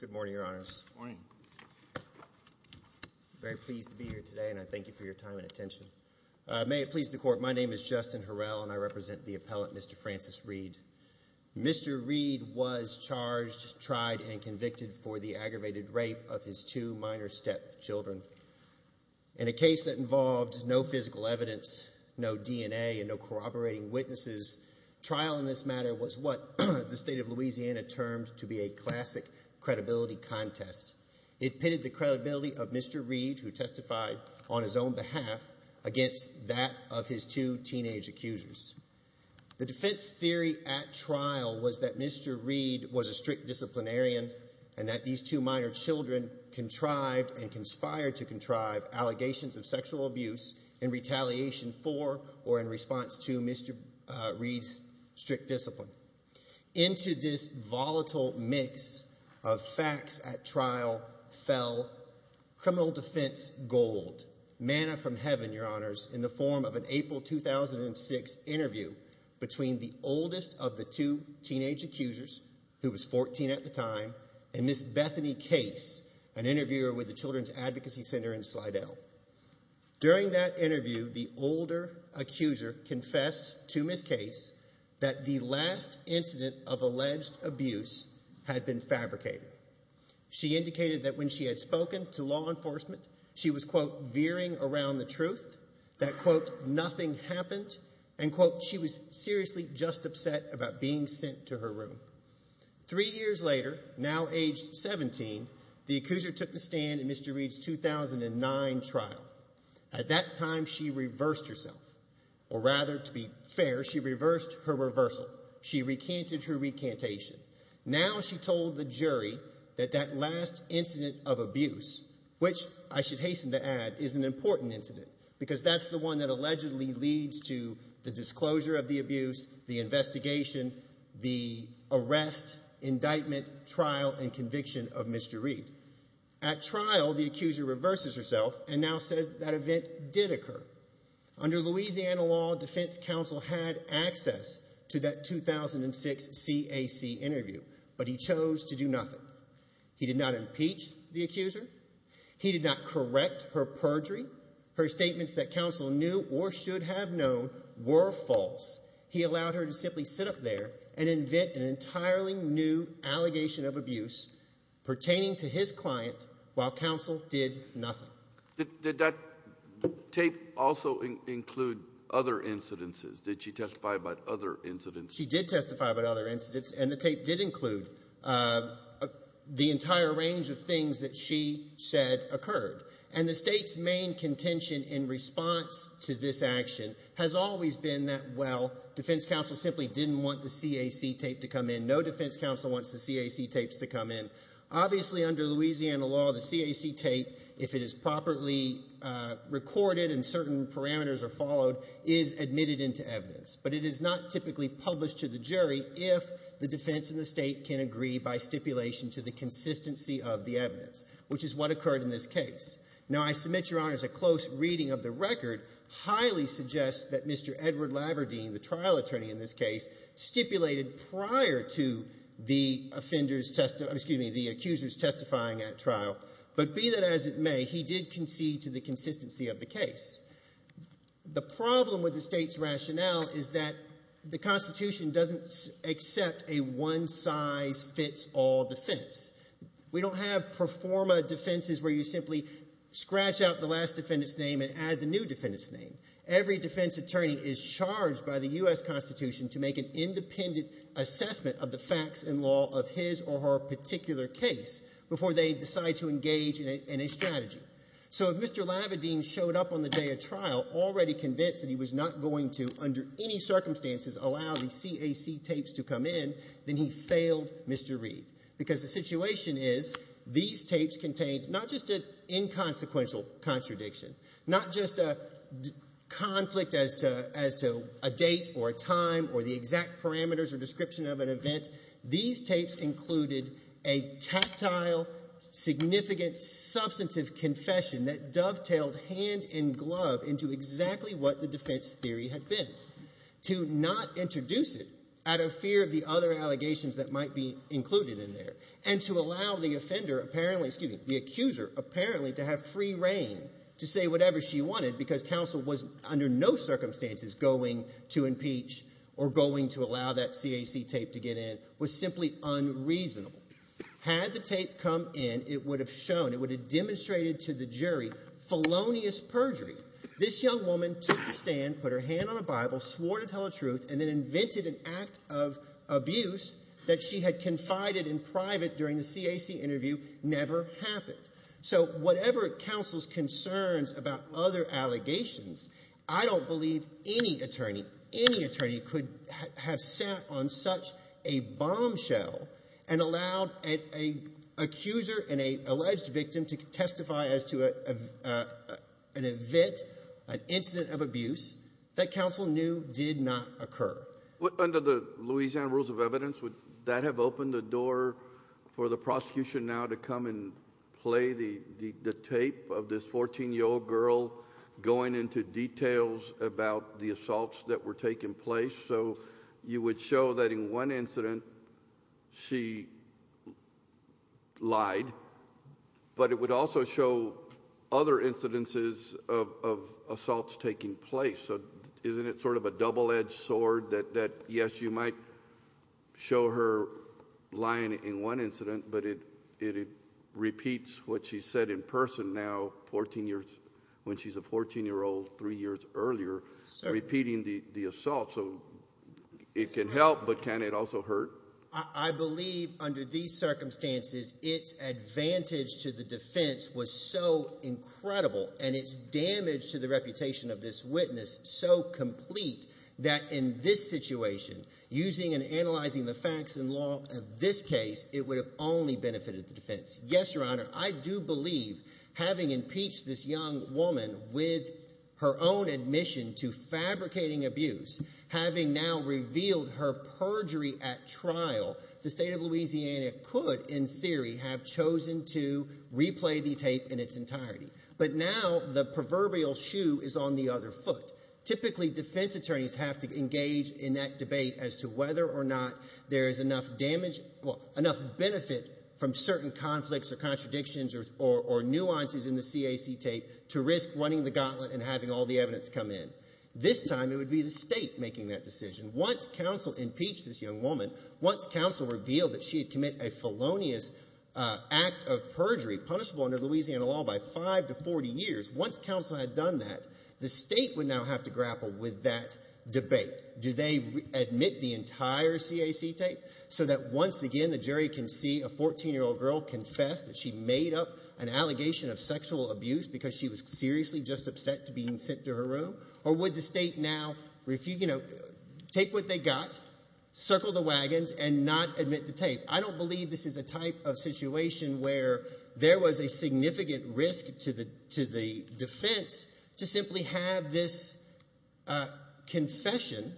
Good morning, Your Honors. Good morning. I'm very pleased to be here today, and I thank you for your time and attention. May it please the Court, my name is Justin Harrell, and I represent the appellant, Mr. Francis Reed. Mr. Reed was charged, tried, and convicted for the aggravated rape of his two minor stepchildren. In a case that involved no physical evidence, no DNA, and no corroborating witnesses, trial in this matter was what the State of Louisiana termed to be a classic credibility contest. It pitted the credibility of Mr. Reed, who testified on his own behalf, against that of his two teenage accusers. The defense theory at trial was that Mr. Reed was a strict disciplinarian, and that these two minor children contrived and conspired to contrive allegations of sexual abuse in retaliation for or in response to Mr. Reed's strict discipline. Into this volatile mix of facts at trial fell criminal defense gold, manna from heaven, Your Honors, in the form of an April 2006 interview between the oldest of the two teenage accusers, who was 14 at the time, and Ms. Bethany Case, an interviewer with the Children's Advocacy Center in Slidell. During that interview, the older accuser confessed to Ms. Case that the last incident of alleged abuse had been fabricated. She indicated that when she had spoken to law enforcement, she was, quote, veering around the truth, that, quote, nothing happened, and, quote, she was seriously just upset about being sent to her room. Three years later, now age 17, the accuser took the stand in Mr. Reed's 2009 trial. At that time, she reversed herself, or rather, to be fair, she reversed her reversal. She recanted her recantation. Now she told the jury that that last incident of abuse, which I should hasten to add is an important incident, because that's the one that allegedly leads to the disclosure of the abuse, the investigation, the arrest, indictment, trial, and conviction of Mr. Reed. At trial, the accuser reverses herself and now says that event did occur. Under Louisiana law, defense counsel had access to that 2006 CAC interview, but he chose to do nothing. He did not impeach the accuser. He did not correct her perjury. Her statements that counsel knew or should have known were false. He allowed her to simply sit up there and invent an entirely new allegation of abuse pertaining to his client while counsel did nothing. Did that tape also include other incidences? Did she testify about other incidents? She did testify about other incidents, and the tape did include the entire range of things that she said occurred. And the state's main contention in response to this action has always been that, well, defense counsel simply didn't want the CAC tape to come in. No defense counsel wants the CAC tapes to come in. Obviously, under Louisiana law, the CAC tape, if it is properly recorded and certain parameters are followed, is admitted into evidence, but it is not typically published to the jury if the defense and the state can agree by stipulation to the consistency of the evidence, which is what occurred in this case. Now, I submit, Your Honor, as a close reading of the record, highly suggest that Mr. Edward Laverdine, the trial attorney in this case, stipulated prior to the accuser's testifying at trial, but be that as it may, he did concede to the consistency of the case. The problem with the state's rationale is that the Constitution doesn't accept a one-size-fits-all defense. We don't have pro forma defenses where you simply scratch out the last defendant's name and add the new defendant's name. Every defense attorney is charged by the U.S. Constitution to make an independent assessment of the facts and law of his or her particular case before they decide to engage in a strategy. So if Mr. Laverdine showed up on the day of trial already convinced that he was not going to, under any circumstances, allow the CAC tapes to come in, then he failed Mr. Reed because the situation is these tapes contained not just an inconsequential contradiction, not just a conflict as to a date or a time or the exact parameters or description of an event. These tapes included a tactile, significant, substantive confession that dovetailed hand and glove into exactly what the defense theory had been. To not introduce it out of fear of the other allegations that might be included in there and to allow the accuser apparently to have free reign to say whatever she wanted because counsel was under no circumstances going to impeach or going to allow that CAC tape to get in was simply unreasonable. Had the tape come in, it would have demonstrated to the jury felonious perjury. This young woman took the stand, put her hand on a Bible, swore to tell the truth and then invented an act of abuse that she had confided in private during the CAC interview never happened. So whatever counsel's concerns about other allegations, I don't believe any attorney, any attorney could have sat on such a bombshell and allowed an accuser and an alleged victim to testify as to an event, an incident of abuse that counsel knew did not occur. Under the Louisiana rules of evidence, would that have opened the door for the prosecution now to come and play the tape of this 14-year-old girl going into details about the assaults that were taking place? So you would show that in one incident she lied, but it would also show other incidences of assaults taking place. So isn't it sort of a double-edged sword that, yes, you might show her lying in one incident, but it repeats what she said in person now when she's a 14-year-old three years earlier, repeating the assault. So it can help, but can it also hurt? I believe under these circumstances its advantage to the defense was so incredible and its damage to the reputation of this witness so complete that in this situation, using and analyzing the facts and law of this case, it would have only benefited the defense. Yes, Your Honor, I do believe having impeached this young woman with her own admission to fabricating abuse, having now revealed her perjury at trial, the state of Louisiana could in theory have chosen to replay the tape in its entirety. But now the proverbial shoe is on the other foot. Typically, defense attorneys have to engage in that debate as to whether or not there is enough benefit from certain conflicts or contradictions or nuances in the CAC tape to risk running the gauntlet and having all the evidence come in. This time it would be the state making that decision. Once counsel impeached this young woman, once counsel revealed that she had committed a felonious act of perjury punishable under Louisiana law by five to 40 years, once counsel had done that, the state would now have to grapple with that debate. Do they admit the entire CAC tape so that once again the jury can see a 14-year-old girl confess that she made up an allegation of sexual abuse because she was seriously just upset to being sent to her room? Or would the state now take what they got, circle the wagons, and not admit the tape? I don't believe this is a type of situation where there was a significant risk to the defense to simply have this confession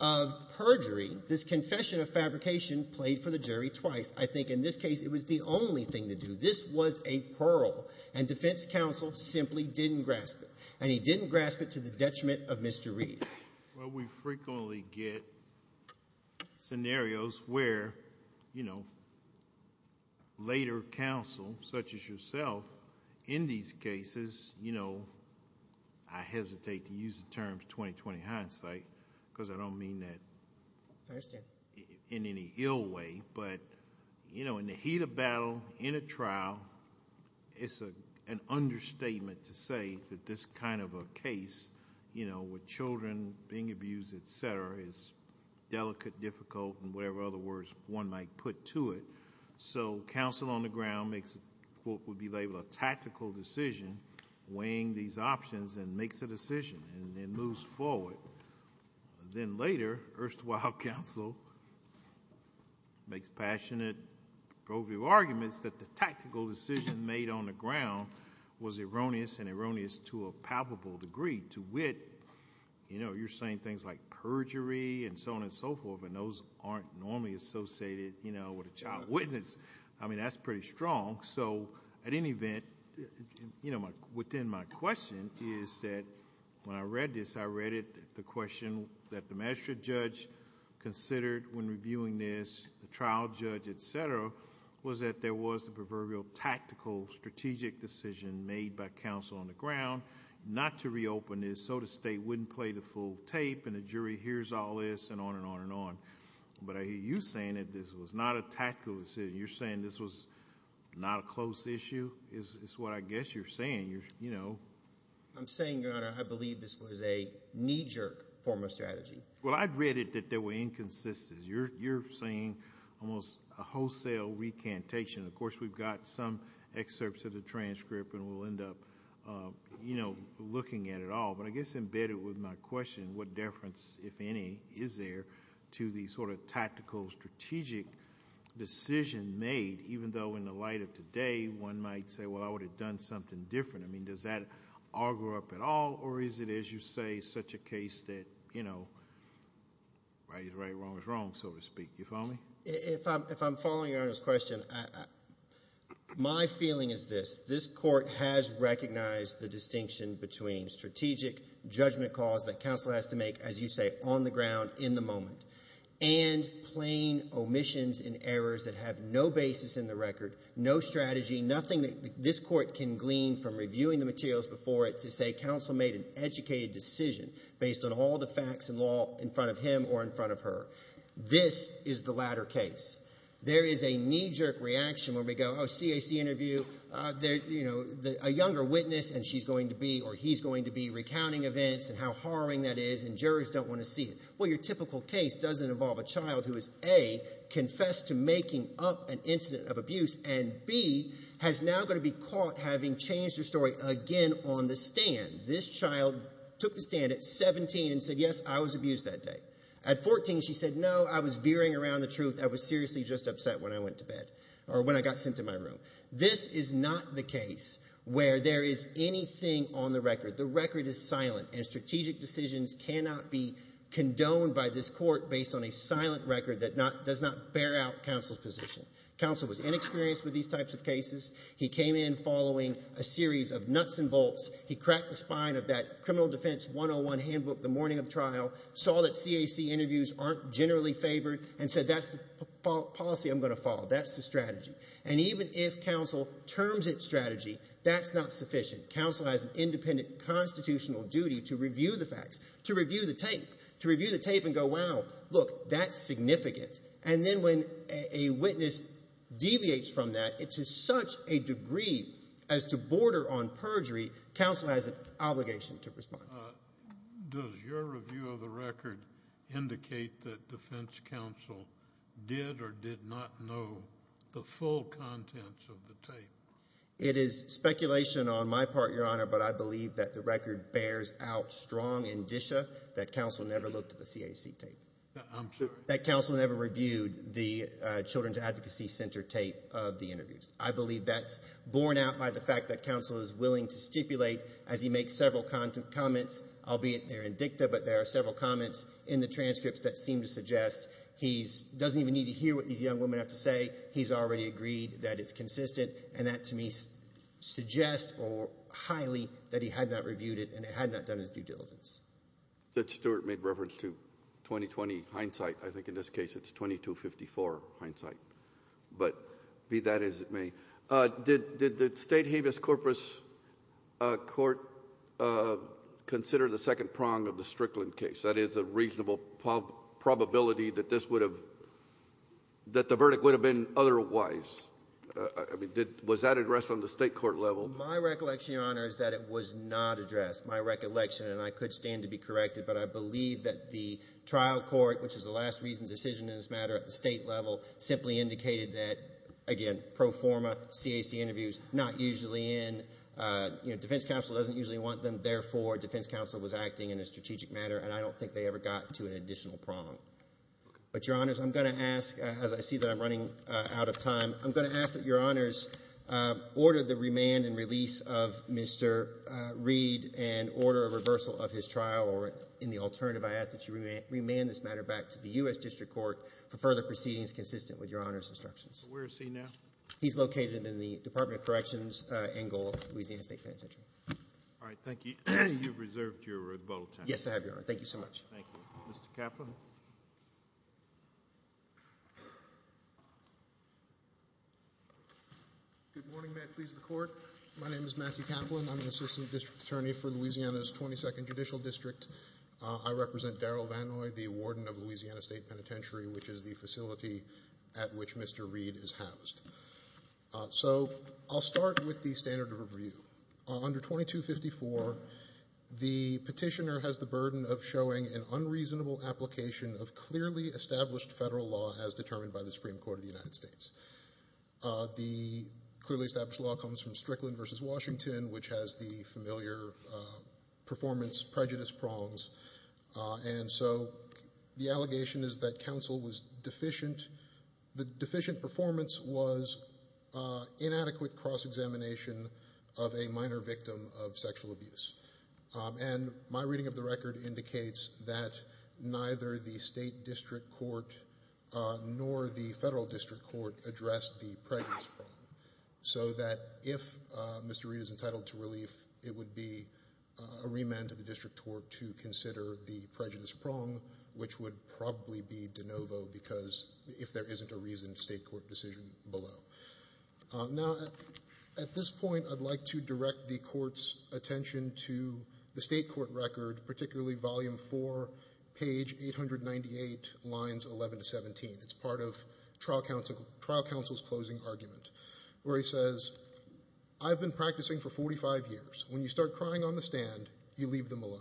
of perjury, this confession of fabrication, played for the jury twice. I think in this case it was the only thing to do. This was a pearl, and defense counsel simply didn't grasp it, and he didn't grasp it to the detriment of Mr. Reed. We frequently get scenarios where later counsel, such as yourself, in these cases, I hesitate to use the term 20-20 hindsight because I don't mean that in any ill way, but in the heat of battle, in a trial, it's an understatement to say that this kind of a case with children being abused, et cetera, is delicate, difficult, and whatever other words one might put to it. So counsel on the ground makes what would be labeled a tactical decision, weighing these options, and makes a decision and moves forward. Then later, erstwhile counsel makes passionate, pro-view arguments that the tactical decision made on the ground was erroneous and erroneous to a palpable degree. To wit, you're saying things like perjury and so on and so forth, and those aren't normally associated with a child witness. I mean, that's pretty strong. So at any event, within my question is that when I read this, I read it the question that the magistrate judge considered when reviewing this, the trial judge, et cetera, was that there was a proverbial tactical strategic decision made by counsel on the ground not to reopen this so the state wouldn't play the full tape and the jury hears all this and on and on and on. But I hear you saying that this was not a tactical decision. You're saying this was not a close issue is what I guess you're saying. I'm saying, Your Honor, I believe this was a knee-jerk form of strategy. Well, I read it that they were inconsistent. You're saying almost a wholesale recantation. Of course, we've got some excerpts of the transcript, and we'll end up looking at it all. But I guess embedded with my question, what difference, if any, is there to the sort of tactical strategic decision made, even though in the light of today, one might say, Well, I would have done something different. I mean, does that auger up at all, or is it, as you say, such a case that, you know, right is right, wrong is wrong, so to speak? You follow me? If I'm following Your Honor's question, my feeling is this. This court has recognized the distinction between strategic judgment calls that counsel has to make, as you say, on the ground in the moment, and plain omissions and errors that have no basis in the record, no strategy, nothing that this court can glean from reviewing the materials before it to say counsel made an educated decision based on all the facts and law in front of him or in front of her. This is the latter case. There is a knee-jerk reaction where we go, Oh, CAC interview, you know, a younger witness, and she's going to be or he's going to be recounting events and how harrowing that is, and jurors don't want to see it. Well, your typical case doesn't involve a child who is, A, confessed to making up an incident of abuse, and, B, has now got to be caught having changed her story again on the stand. This child took the stand at 17 and said, Yes, I was abused that day. At 14, she said, No, I was veering around the truth. I was seriously just upset when I went to bed or when I got sent to my room. This is not the case where there is anything on the record. The record is silent, and strategic decisions cannot be condoned by this court based on a silent record that does not bear out counsel's position. Counsel was inexperienced with these types of cases. He came in following a series of nuts and bolts. He cracked the spine of that criminal defense 101 handbook the morning of trial, saw that CAC interviews aren't generally favored, and said, That's the policy I'm going to follow. That's the strategy. And even if counsel terms its strategy, that's not sufficient. Counsel has an independent constitutional duty to review the facts, to review the tape, to review the tape and go, Wow, look, that's significant. And then when a witness deviates from that to such a degree as to border on perjury, counsel has an obligation to respond. Does your review of the record indicate that defense counsel did or did not know the full contents of the tape? It is speculation on my part, Your Honor, but I believe that the record bears out strong indicia that counsel never looked at the CAC tape. I'm sorry? That counsel never reviewed the Children's Advocacy Center tape of the interviews. I believe that's borne out by the fact that counsel is willing to stipulate as he makes several comments, albeit they're in dicta, but there are several comments in the transcripts that seem to suggest he doesn't even need to hear what these young women have to say. He's already agreed that it's consistent, and that to me suggests highly that he had not reviewed it and had not done his due diligence. Stewart made reference to 2020 hindsight. I think in this case it's 2254 hindsight, but be that as it may. Did the State Habeas Corpus Court consider the second prong of the Strickland case? That is a reasonable probability that this would have — that the verdict would have been otherwise. I mean, was that addressed on the State court level? My recollection, Your Honor, is that it was not addressed. That's my recollection, and I could stand to be corrected. But I believe that the trial court, which is the last reason decision in this matter at the state level, simply indicated that, again, pro forma, CAC interviews, not usually in. You know, defense counsel doesn't usually want them. Therefore, defense counsel was acting in a strategic manner, and I don't think they ever got to an additional prong. But, Your Honors, I'm going to ask, as I see that I'm running out of time, I'm going to ask that Your Honors order the remand and release of Mr. Reed and order a reversal of his trial, or in the alternative, I ask that you remand this matter back to the U.S. District Court for further proceedings consistent with Your Honor's instructions. Where is he now? He's located in the Department of Corrections, Angola, Louisiana State Penitentiary. All right. Thank you. You've reserved your rebuttal time. Yes, I have, Your Honor. Thank you so much. Thank you. Mr. Kaplan. Good morning. May it please the Court. My name is Matthew Kaplan. I'm the assistant district attorney for Louisiana's 22nd Judicial District. I represent Darryl Vannoy, the warden of Louisiana State Penitentiary, which is the facility at which Mr. Reed is housed. So I'll start with the standard of review. Under 2254, the petitioner has the burden of showing an unreasonable application of clearly established federal law as determined by the Supreme Court of the United States. The clearly established law comes from Strickland v. Washington, which has the familiar performance prejudice prongs. And so the allegation is that counsel was deficient. The deficient performance was inadequate cross-examination of a minor victim of sexual abuse. And my reading of the record indicates that neither the state district court nor the federal district court addressed the prejudice prong, so that if Mr. Reed is entitled to relief, it would be a remand to the district court to consider the prejudice prong, which would probably be de novo because if there isn't a reason, state court decision below. Now, at this point, I'd like to direct the court's attention to the state court record, particularly volume 4, page 898, lines 11 to 17. It's part of trial counsel's closing argument, where he says, I've been practicing for 45 years. When you start crying on the stand, you leave them alone.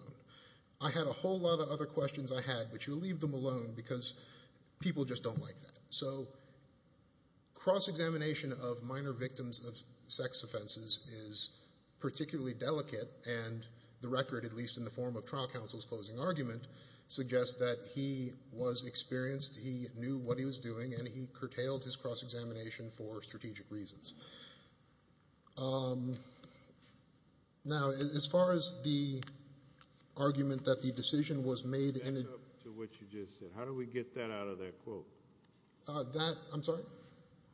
I had a whole lot of other questions I had, but you leave them alone because people just don't like that. So cross-examination of minor victims of sex offenses is particularly delicate, and the record, at least in the form of trial counsel's closing argument, suggests that he was experienced, he knew what he was doing, and he curtailed his cross-examination for strategic reasons. Now, as far as the argument that the decision was made in it. Back up to what you just said. How do we get that out of that quote? That, I'm sorry?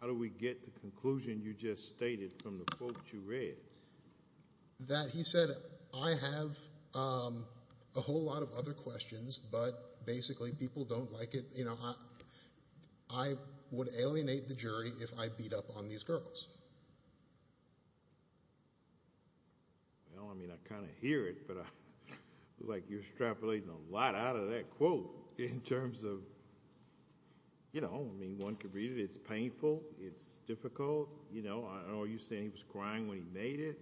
How do we get the conclusion you just stated from the quote you read? That he said, I have a whole lot of other questions, but basically people don't like it. I would alienate the jury if I beat up on these girls. Well, I mean, I kind of hear it, but I feel like you're extrapolating a lot out of that quote in terms of, you know, I mean, one could read it. It's painful. It's difficult. I know you're saying he was crying when he made it.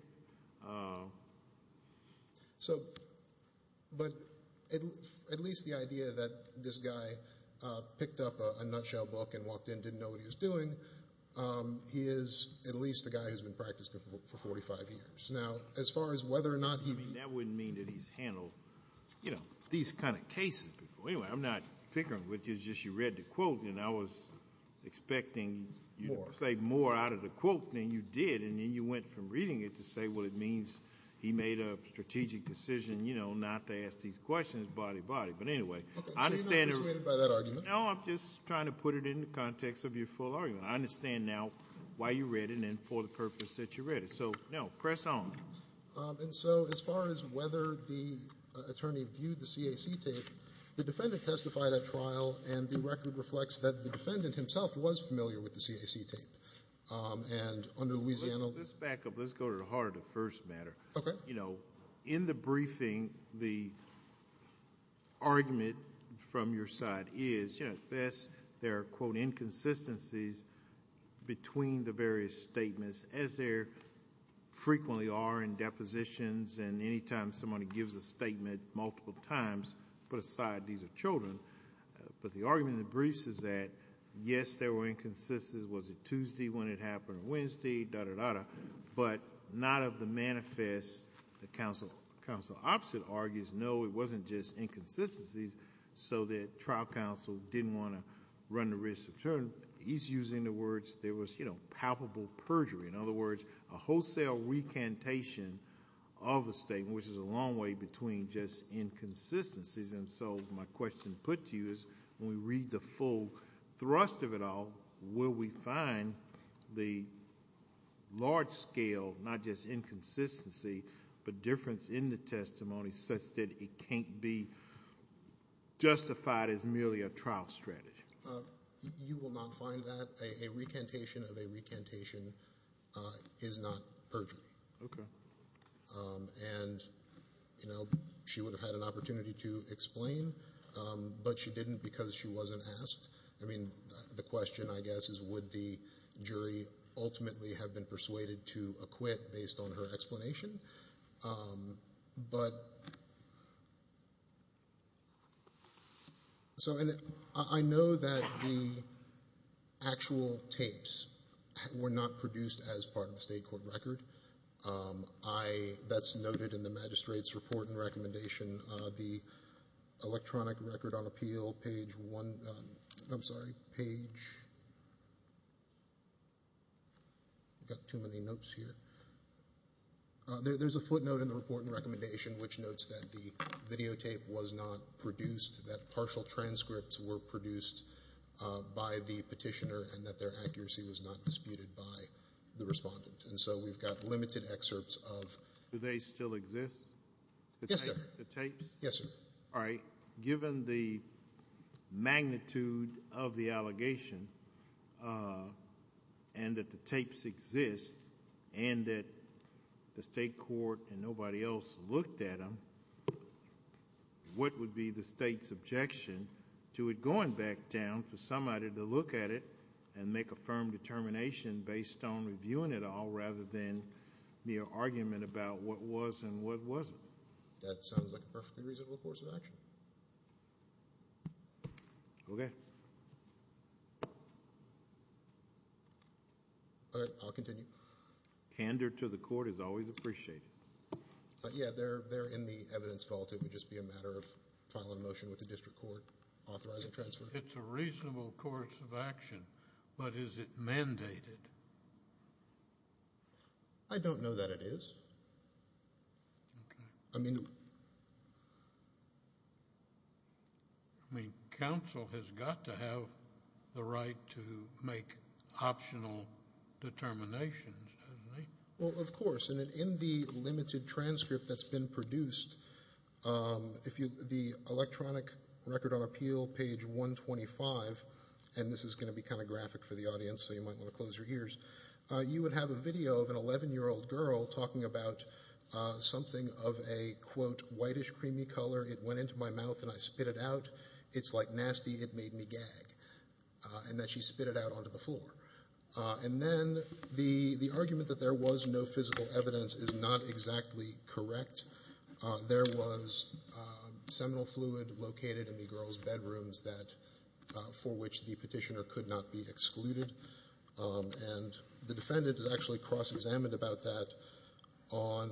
So, but at least the idea that this guy picked up a nutshell book and walked in, didn't know what he was doing, he is at least a guy who's been practicing for 45 years. Now, as far as whether or not he. I mean, that wouldn't mean that he's handled, you know, these kind of cases before. Anyway, I'm not bickering with you. It's just you read the quote, and I was expecting you to say more out of the quote than you did, and then you went from reading it to say, well, it means he made a strategic decision, you know, not to ask these questions, body, body. But anyway, I understand. Okay, so you're not intimidated by that argument. No, I'm just trying to put it in the context of your full argument. I understand now why you read it and for the purpose that you read it. So, no, press on. And so as far as whether the attorney viewed the CAC tape, the defendant testified at trial, and the record reflects that the defendant himself was familiar with the CAC tape. And under Louisiana law. Let's back up. Let's go to the heart of the first matter. Okay. You know, in the briefing, the argument from your side is, you know, at best there are, quote, inconsistencies between the various statements, as there frequently are in depositions and anytime somebody gives a statement multiple times, put aside these are children. But the argument in the briefs is that, yes, there were inconsistencies. Was it Tuesday when it happened or Wednesday? Da-da-da-da. But not of the manifest that counsel opposite argues. No, it wasn't just inconsistencies so that trial counsel didn't want to run the risk of children. He's using the words there was, you know, palpable perjury. In other words, a wholesale recantation of a statement, which is a long way between just inconsistencies. And so my question put to you is, when we read the full thrust of it all, will we find the large scale, not just inconsistency, but difference in the testimony such that it can't be justified as merely a trial strategy? You will not find that. A recantation of a recantation is not perjury. Okay. And, you know, she would have had an opportunity to explain, but she didn't because she wasn't asked. I mean, the question, I guess, is would the jury ultimately have been persuaded to acquit based on her explanation? But so I know that the actual tapes were not produced as part of the state court record. That's noted in the magistrate's report and recommendation. The electronic record on appeal, page one, I'm sorry, page, I've got too many notes here. There's a footnote in the report and recommendation which notes that the videotape was not produced, that partial transcripts were produced by the petitioner and that their accuracy was not disputed by the respondent. And so we've got limited excerpts of. Do they still exist? Yes, sir. The tapes? Yes, sir. All right. Given the magnitude of the allegation and that the tapes exist and that the state court and nobody else looked at them, what would be the state's objection to it going back down for somebody to look at it and make a firm determination based on reviewing it all rather than mere argument about what was and what wasn't? That sounds like a perfectly reasonable course of action. Okay. All right. I'll continue. Candor to the court is always appreciated. Yeah, they're in the evidence vault. It would just be a matter of filing a motion with the district court, authorizing transfer. It's a reasonable course of action, but is it mandated? I don't know that it is. Okay. I mean, counsel has got to have the right to make optional determinations, doesn't he? Well, of course. And in the limited transcript that's been produced, the electronic record on appeal, page 125, and this is going to be kind of graphic for the audience so you might want to close your ears, you would have a video of an 11-year-old girl talking about something of a, quote, whitish creamy color. It went into my mouth and I spit it out. It's, like, nasty. It made me gag. And then she spit it out onto the floor. And then the argument that there was no physical evidence is not exactly correct. There was seminal fluid located in the girl's bedrooms that for which the Petitioner could not be excluded. And the defendant has actually cross-examined about that on,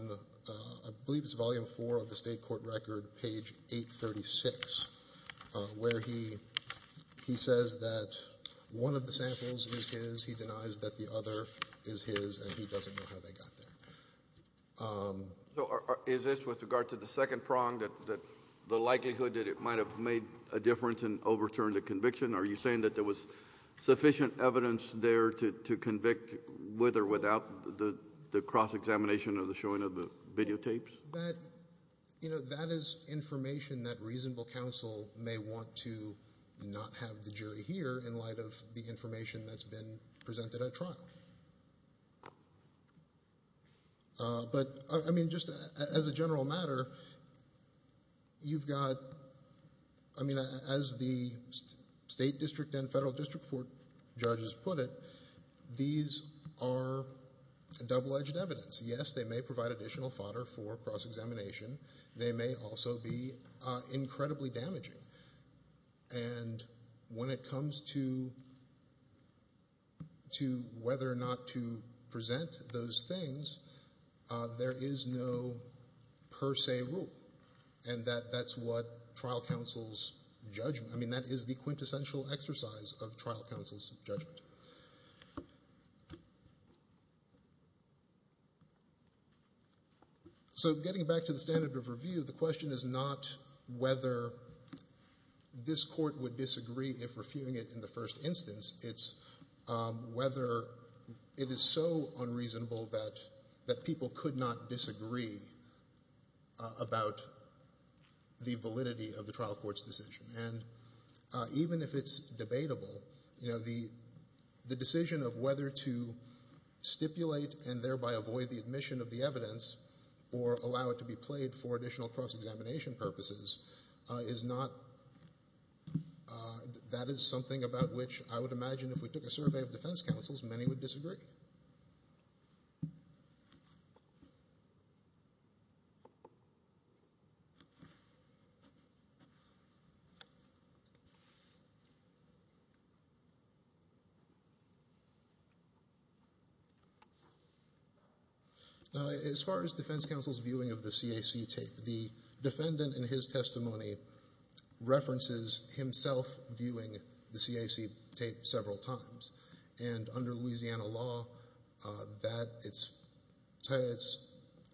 I believe it's volume four of the State court record, page 836, where he says that one of the samples is his, he denies that the other is his, and he doesn't know how they got there. So is this with regard to the second prong, that the likelihood that it might have made a difference and overturned the conviction? Are you saying that there was sufficient evidence there to convict with or without the cross-examination or the showing of the videotapes? That, you know, that is information that reasonable counsel may want to not have the jury hear But, I mean, just as a general matter, you've got, I mean, as the State District and Federal District Court judges put it, these are double-edged evidence. Yes, they may provide additional fodder for cross-examination. They may also be incredibly damaging. And when it comes to whether or not to present those things, there is no per se rule. And that's what trial counsel's judgment, I mean, that is the quintessential exercise of trial counsel's judgment. So getting back to the standard of review, the question is not whether this court would disagree if reviewing it in the first instance. It's whether it is so unreasonable that people could not disagree about the validity of the trial court's decision. And even if it's debatable, you know, the decision of whether to stipulate and thereby avoid the admission of the evidence or allow it to be played for additional cross-examination purposes is not, that is something about which I would imagine if we took a survey of defense counsels, many would disagree. Now, as far as defense counsel's viewing of the CAC tape, the defendant in his testimony references himself viewing the CAC tape several times. And under Louisiana law, it's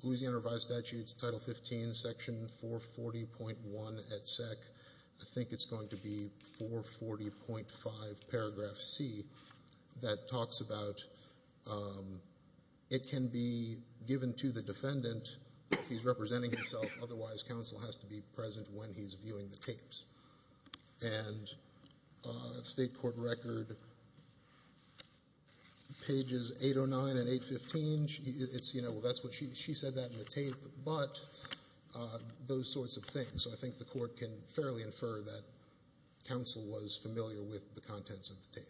Louisiana Revised Statutes, Title 15, Section 440.1 et sec. I think it's going to be 440.5 paragraph C that talks about it can be given to the defendant if he's representing himself. Otherwise, counsel has to be present when he's viewing the tapes. And the state court record, pages 809 and 815, she said that in the tape, but those sorts of things. So I think the court can fairly infer that counsel was familiar with the contents of the tape.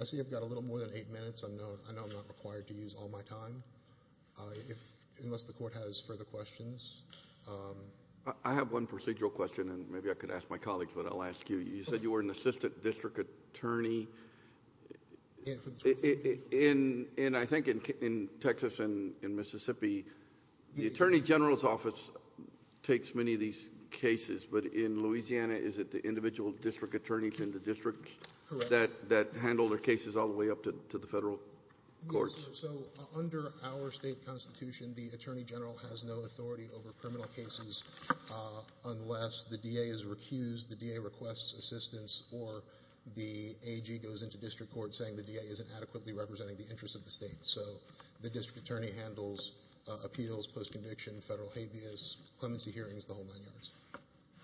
I see I've got a little more than eight minutes. I know I'm not required to use all my time unless the court has further questions. I have one procedural question, and maybe I could ask my colleagues, but I'll ask you. You said you were an assistant district attorney. And I think in Texas and Mississippi, the attorney general's office takes many of these cases. But in Louisiana, is it the individual district attorneys in the districts that handle their cases all the way up to the federal courts? Yes, sir. So under our state constitution, the attorney general has no authority over criminal cases unless the DA is recused, the DA requests assistance, or the AG goes into district court saying the DA isn't adequately representing the interests of the State. So the district attorney handles appeals, post-conviction, federal habeas, clemency hearings, the whole nine yards.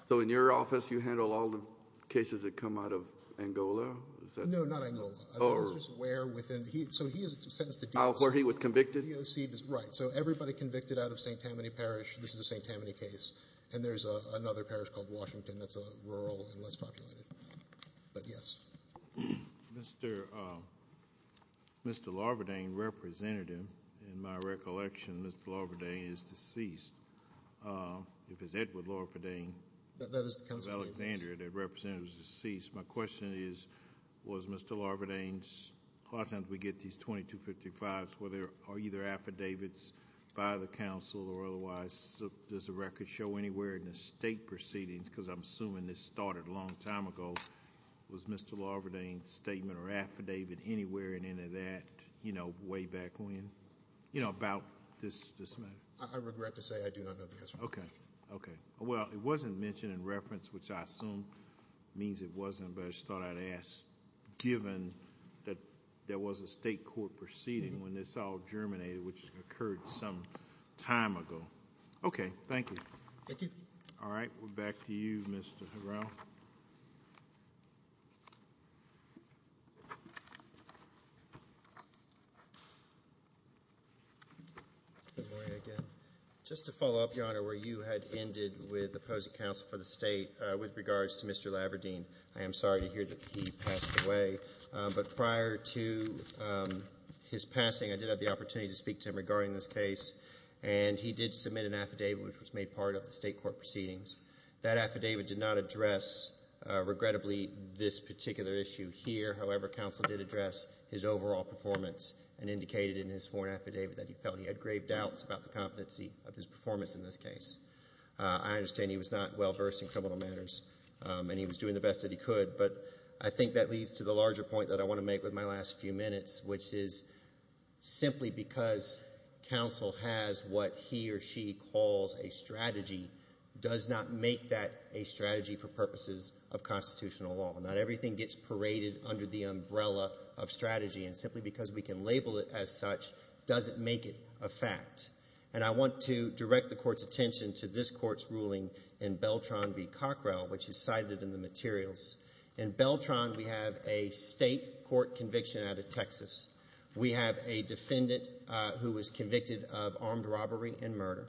So in your office, you handle all the cases that come out of Angola? No, not Angola. Oh. It's just where within the heat. So he is sentenced to do this. Where he was convicted? Right. So everybody convicted out of St. Tammany Parish, this is a St. Tammany case. And there's another parish called Washington that's rural and less populated. But yes. Mr. Larvardane, representative, in my recollection, Mr. Larvardane is deceased. If it's Edward Larvardane of Alexandria, that representative is deceased. My question is, was Mr. Larvardane's, a lot of times we get these 2255s, where there are either affidavits by the council or otherwise. Does the record show anywhere in the state proceedings, because I'm assuming this started a long time ago, was Mr. Larvardane's statement or affidavit anywhere in any of that, you know, way back when? You know, about this matter? I regret to say I do not know the answer to that question. Okay. Okay. Well, it wasn't mentioned in reference, which I assume means it wasn't, but I just thought I'd ask, given that there was a state court proceeding when this all germinated, which occurred some time ago. Okay. Thank you. Thank you. All right. We're back to you, Mr. Harrell. Good morning again. Just to follow up, Your Honor, where you had ended with opposing counsel for the state with regards to Mr. Larvardane, I am sorry to hear that he passed away. But prior to his passing, I did have the opportunity to speak to him regarding this case, and he did submit an affidavit, which was made part of the state court proceedings. That affidavit did not address, regrettably, this particular issue here. However, counsel did address his overall performance and indicated in his sworn affidavit that he felt he had grave doubts about the competency of his performance in this case. I understand he was not well versed in criminal matters, and he was doing the best that he could. But I think that leads to the larger point that I want to make with my last few minutes, which is simply because counsel has what he or she calls a strategy does not make that a strategy for purposes of constitutional law. Not everything gets paraded under the umbrella of strategy, and simply because we can label it as such doesn't make it a fact. And I want to direct the court's attention to this court's ruling in Beltran v. Cockrell, which is cited in the materials. In Beltran, we have a state court conviction out of Texas. We have a defendant who was convicted of armed robbery and murder.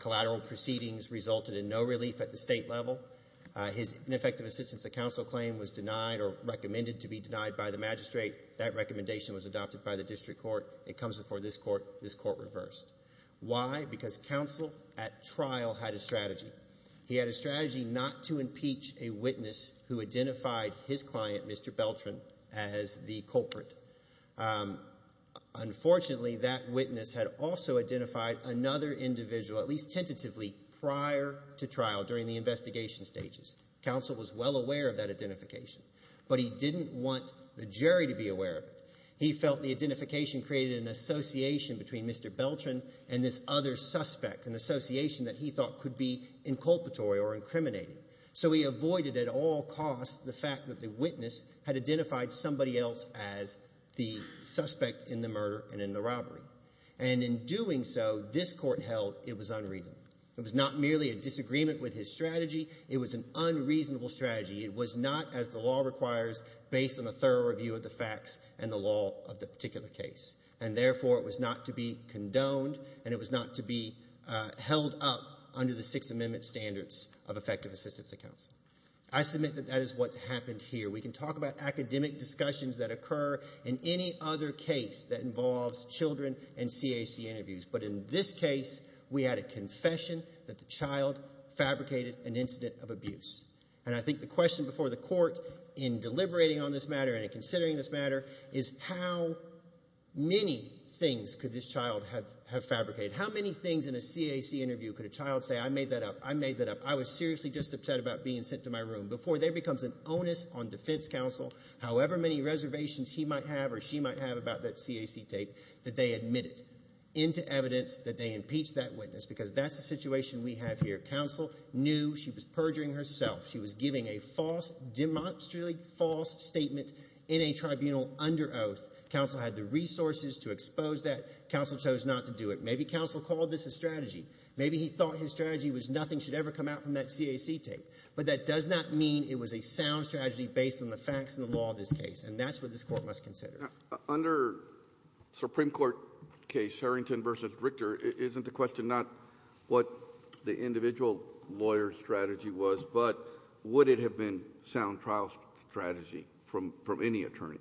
Collateral proceedings resulted in no relief at the state level. His ineffective assistance at counsel claim was denied or recommended to be denied by the magistrate. That recommendation was adopted by the district court. It comes before this court. This court reversed. Why? Because counsel at trial had a strategy. He had a strategy not to impeach a witness who identified his client, Mr. Beltran, as the culprit. Unfortunately, that witness had also identified another individual, at least tentatively, prior to trial during the investigation stages. Counsel was well aware of that identification, but he didn't want the jury to be aware of it. He felt the identification created an association between Mr. Beltran and this other suspect, an association that he thought could be inculpatory or incriminating. So he avoided at all costs the fact that the witness had identified somebody else as the suspect in the murder and in the robbery. And in doing so, this court held it was unreasonable. It was not merely a disagreement with his strategy. It was an unreasonable strategy. It was not, as the law requires, based on a thorough review of the facts and the law of the particular case. And, therefore, it was not to be condoned, and it was not to be held up under the Sixth Amendment standards of effective assistance to counsel. I submit that that is what's happened here. We can talk about academic discussions that occur in any other case that involves children and CAC interviews. But in this case, we had a confession that the child fabricated an incident of abuse. And I think the question before the court in deliberating on this matter and in considering this matter is how many things could this child have fabricated? How many things in a CAC interview could a child say, I made that up, I made that up, I was seriously just upset about being sent to my room? Before there becomes an onus on defense counsel, however many reservations he might have or she might have about that CAC tape, that they admit it into evidence that they impeached that witness because that's the situation we have here. Counsel knew she was perjuring herself. She was giving a false, demonstrably false statement in a tribunal under oath. Counsel had the resources to expose that. Counsel chose not to do it. Maybe counsel called this a strategy. Maybe he thought his strategy was nothing should ever come out from that CAC tape. But that does not mean it was a sound strategy based on the facts and the law of this case, and that's what this Court must consider. Under a Supreme Court case, Harrington v. Richter, isn't the question not what the individual lawyer's strategy was, but would it have been a sound trial strategy from any attorney?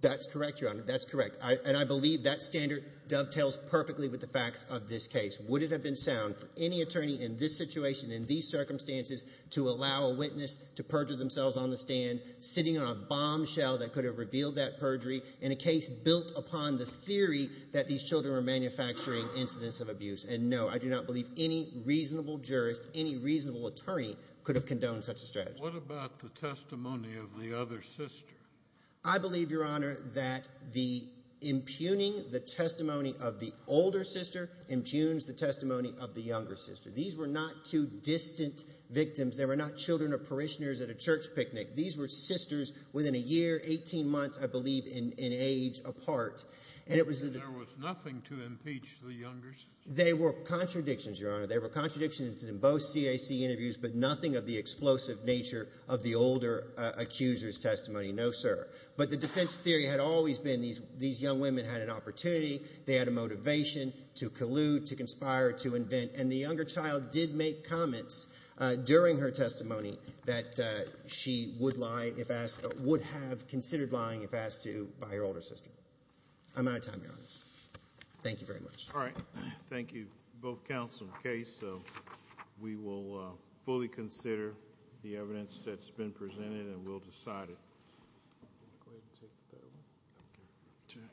That's correct, Your Honor. That's correct. And I believe that standard dovetails perfectly with the facts of this case. Would it have been sound for any attorney in this situation, in these circumstances, to allow a witness to perjure themselves on the stand, sitting on a bombshell that could have revealed that perjury, in a case built upon the theory that these children were manufacturing incidents of abuse? And no, I do not believe any reasonable jurist, any reasonable attorney could have condoned such a strategy. What about the testimony of the other sister? I believe, Your Honor, that the impugning the testimony of the older sister impugns the testimony of the younger sister. These were not two distant victims. They were not children or parishioners at a church picnic. These were sisters within a year, 18 months, I believe, in age apart. There was nothing to impeach the younger sister? There were contradictions, Your Honor. There were contradictions in both CAC interviews, but nothing of the explosive nature of the older accuser's testimony. No, sir. But the defense theory had always been these young women had an opportunity, they had a motivation to collude, to conspire, to invent. And the younger child did make comments during her testimony that she would have considered lying if asked to by her older sister. I'm out of time, Your Honor. Thank you very much. All right. Thank you, both counsel and case. We will fully consider the evidence that's been presented, and we'll decide it.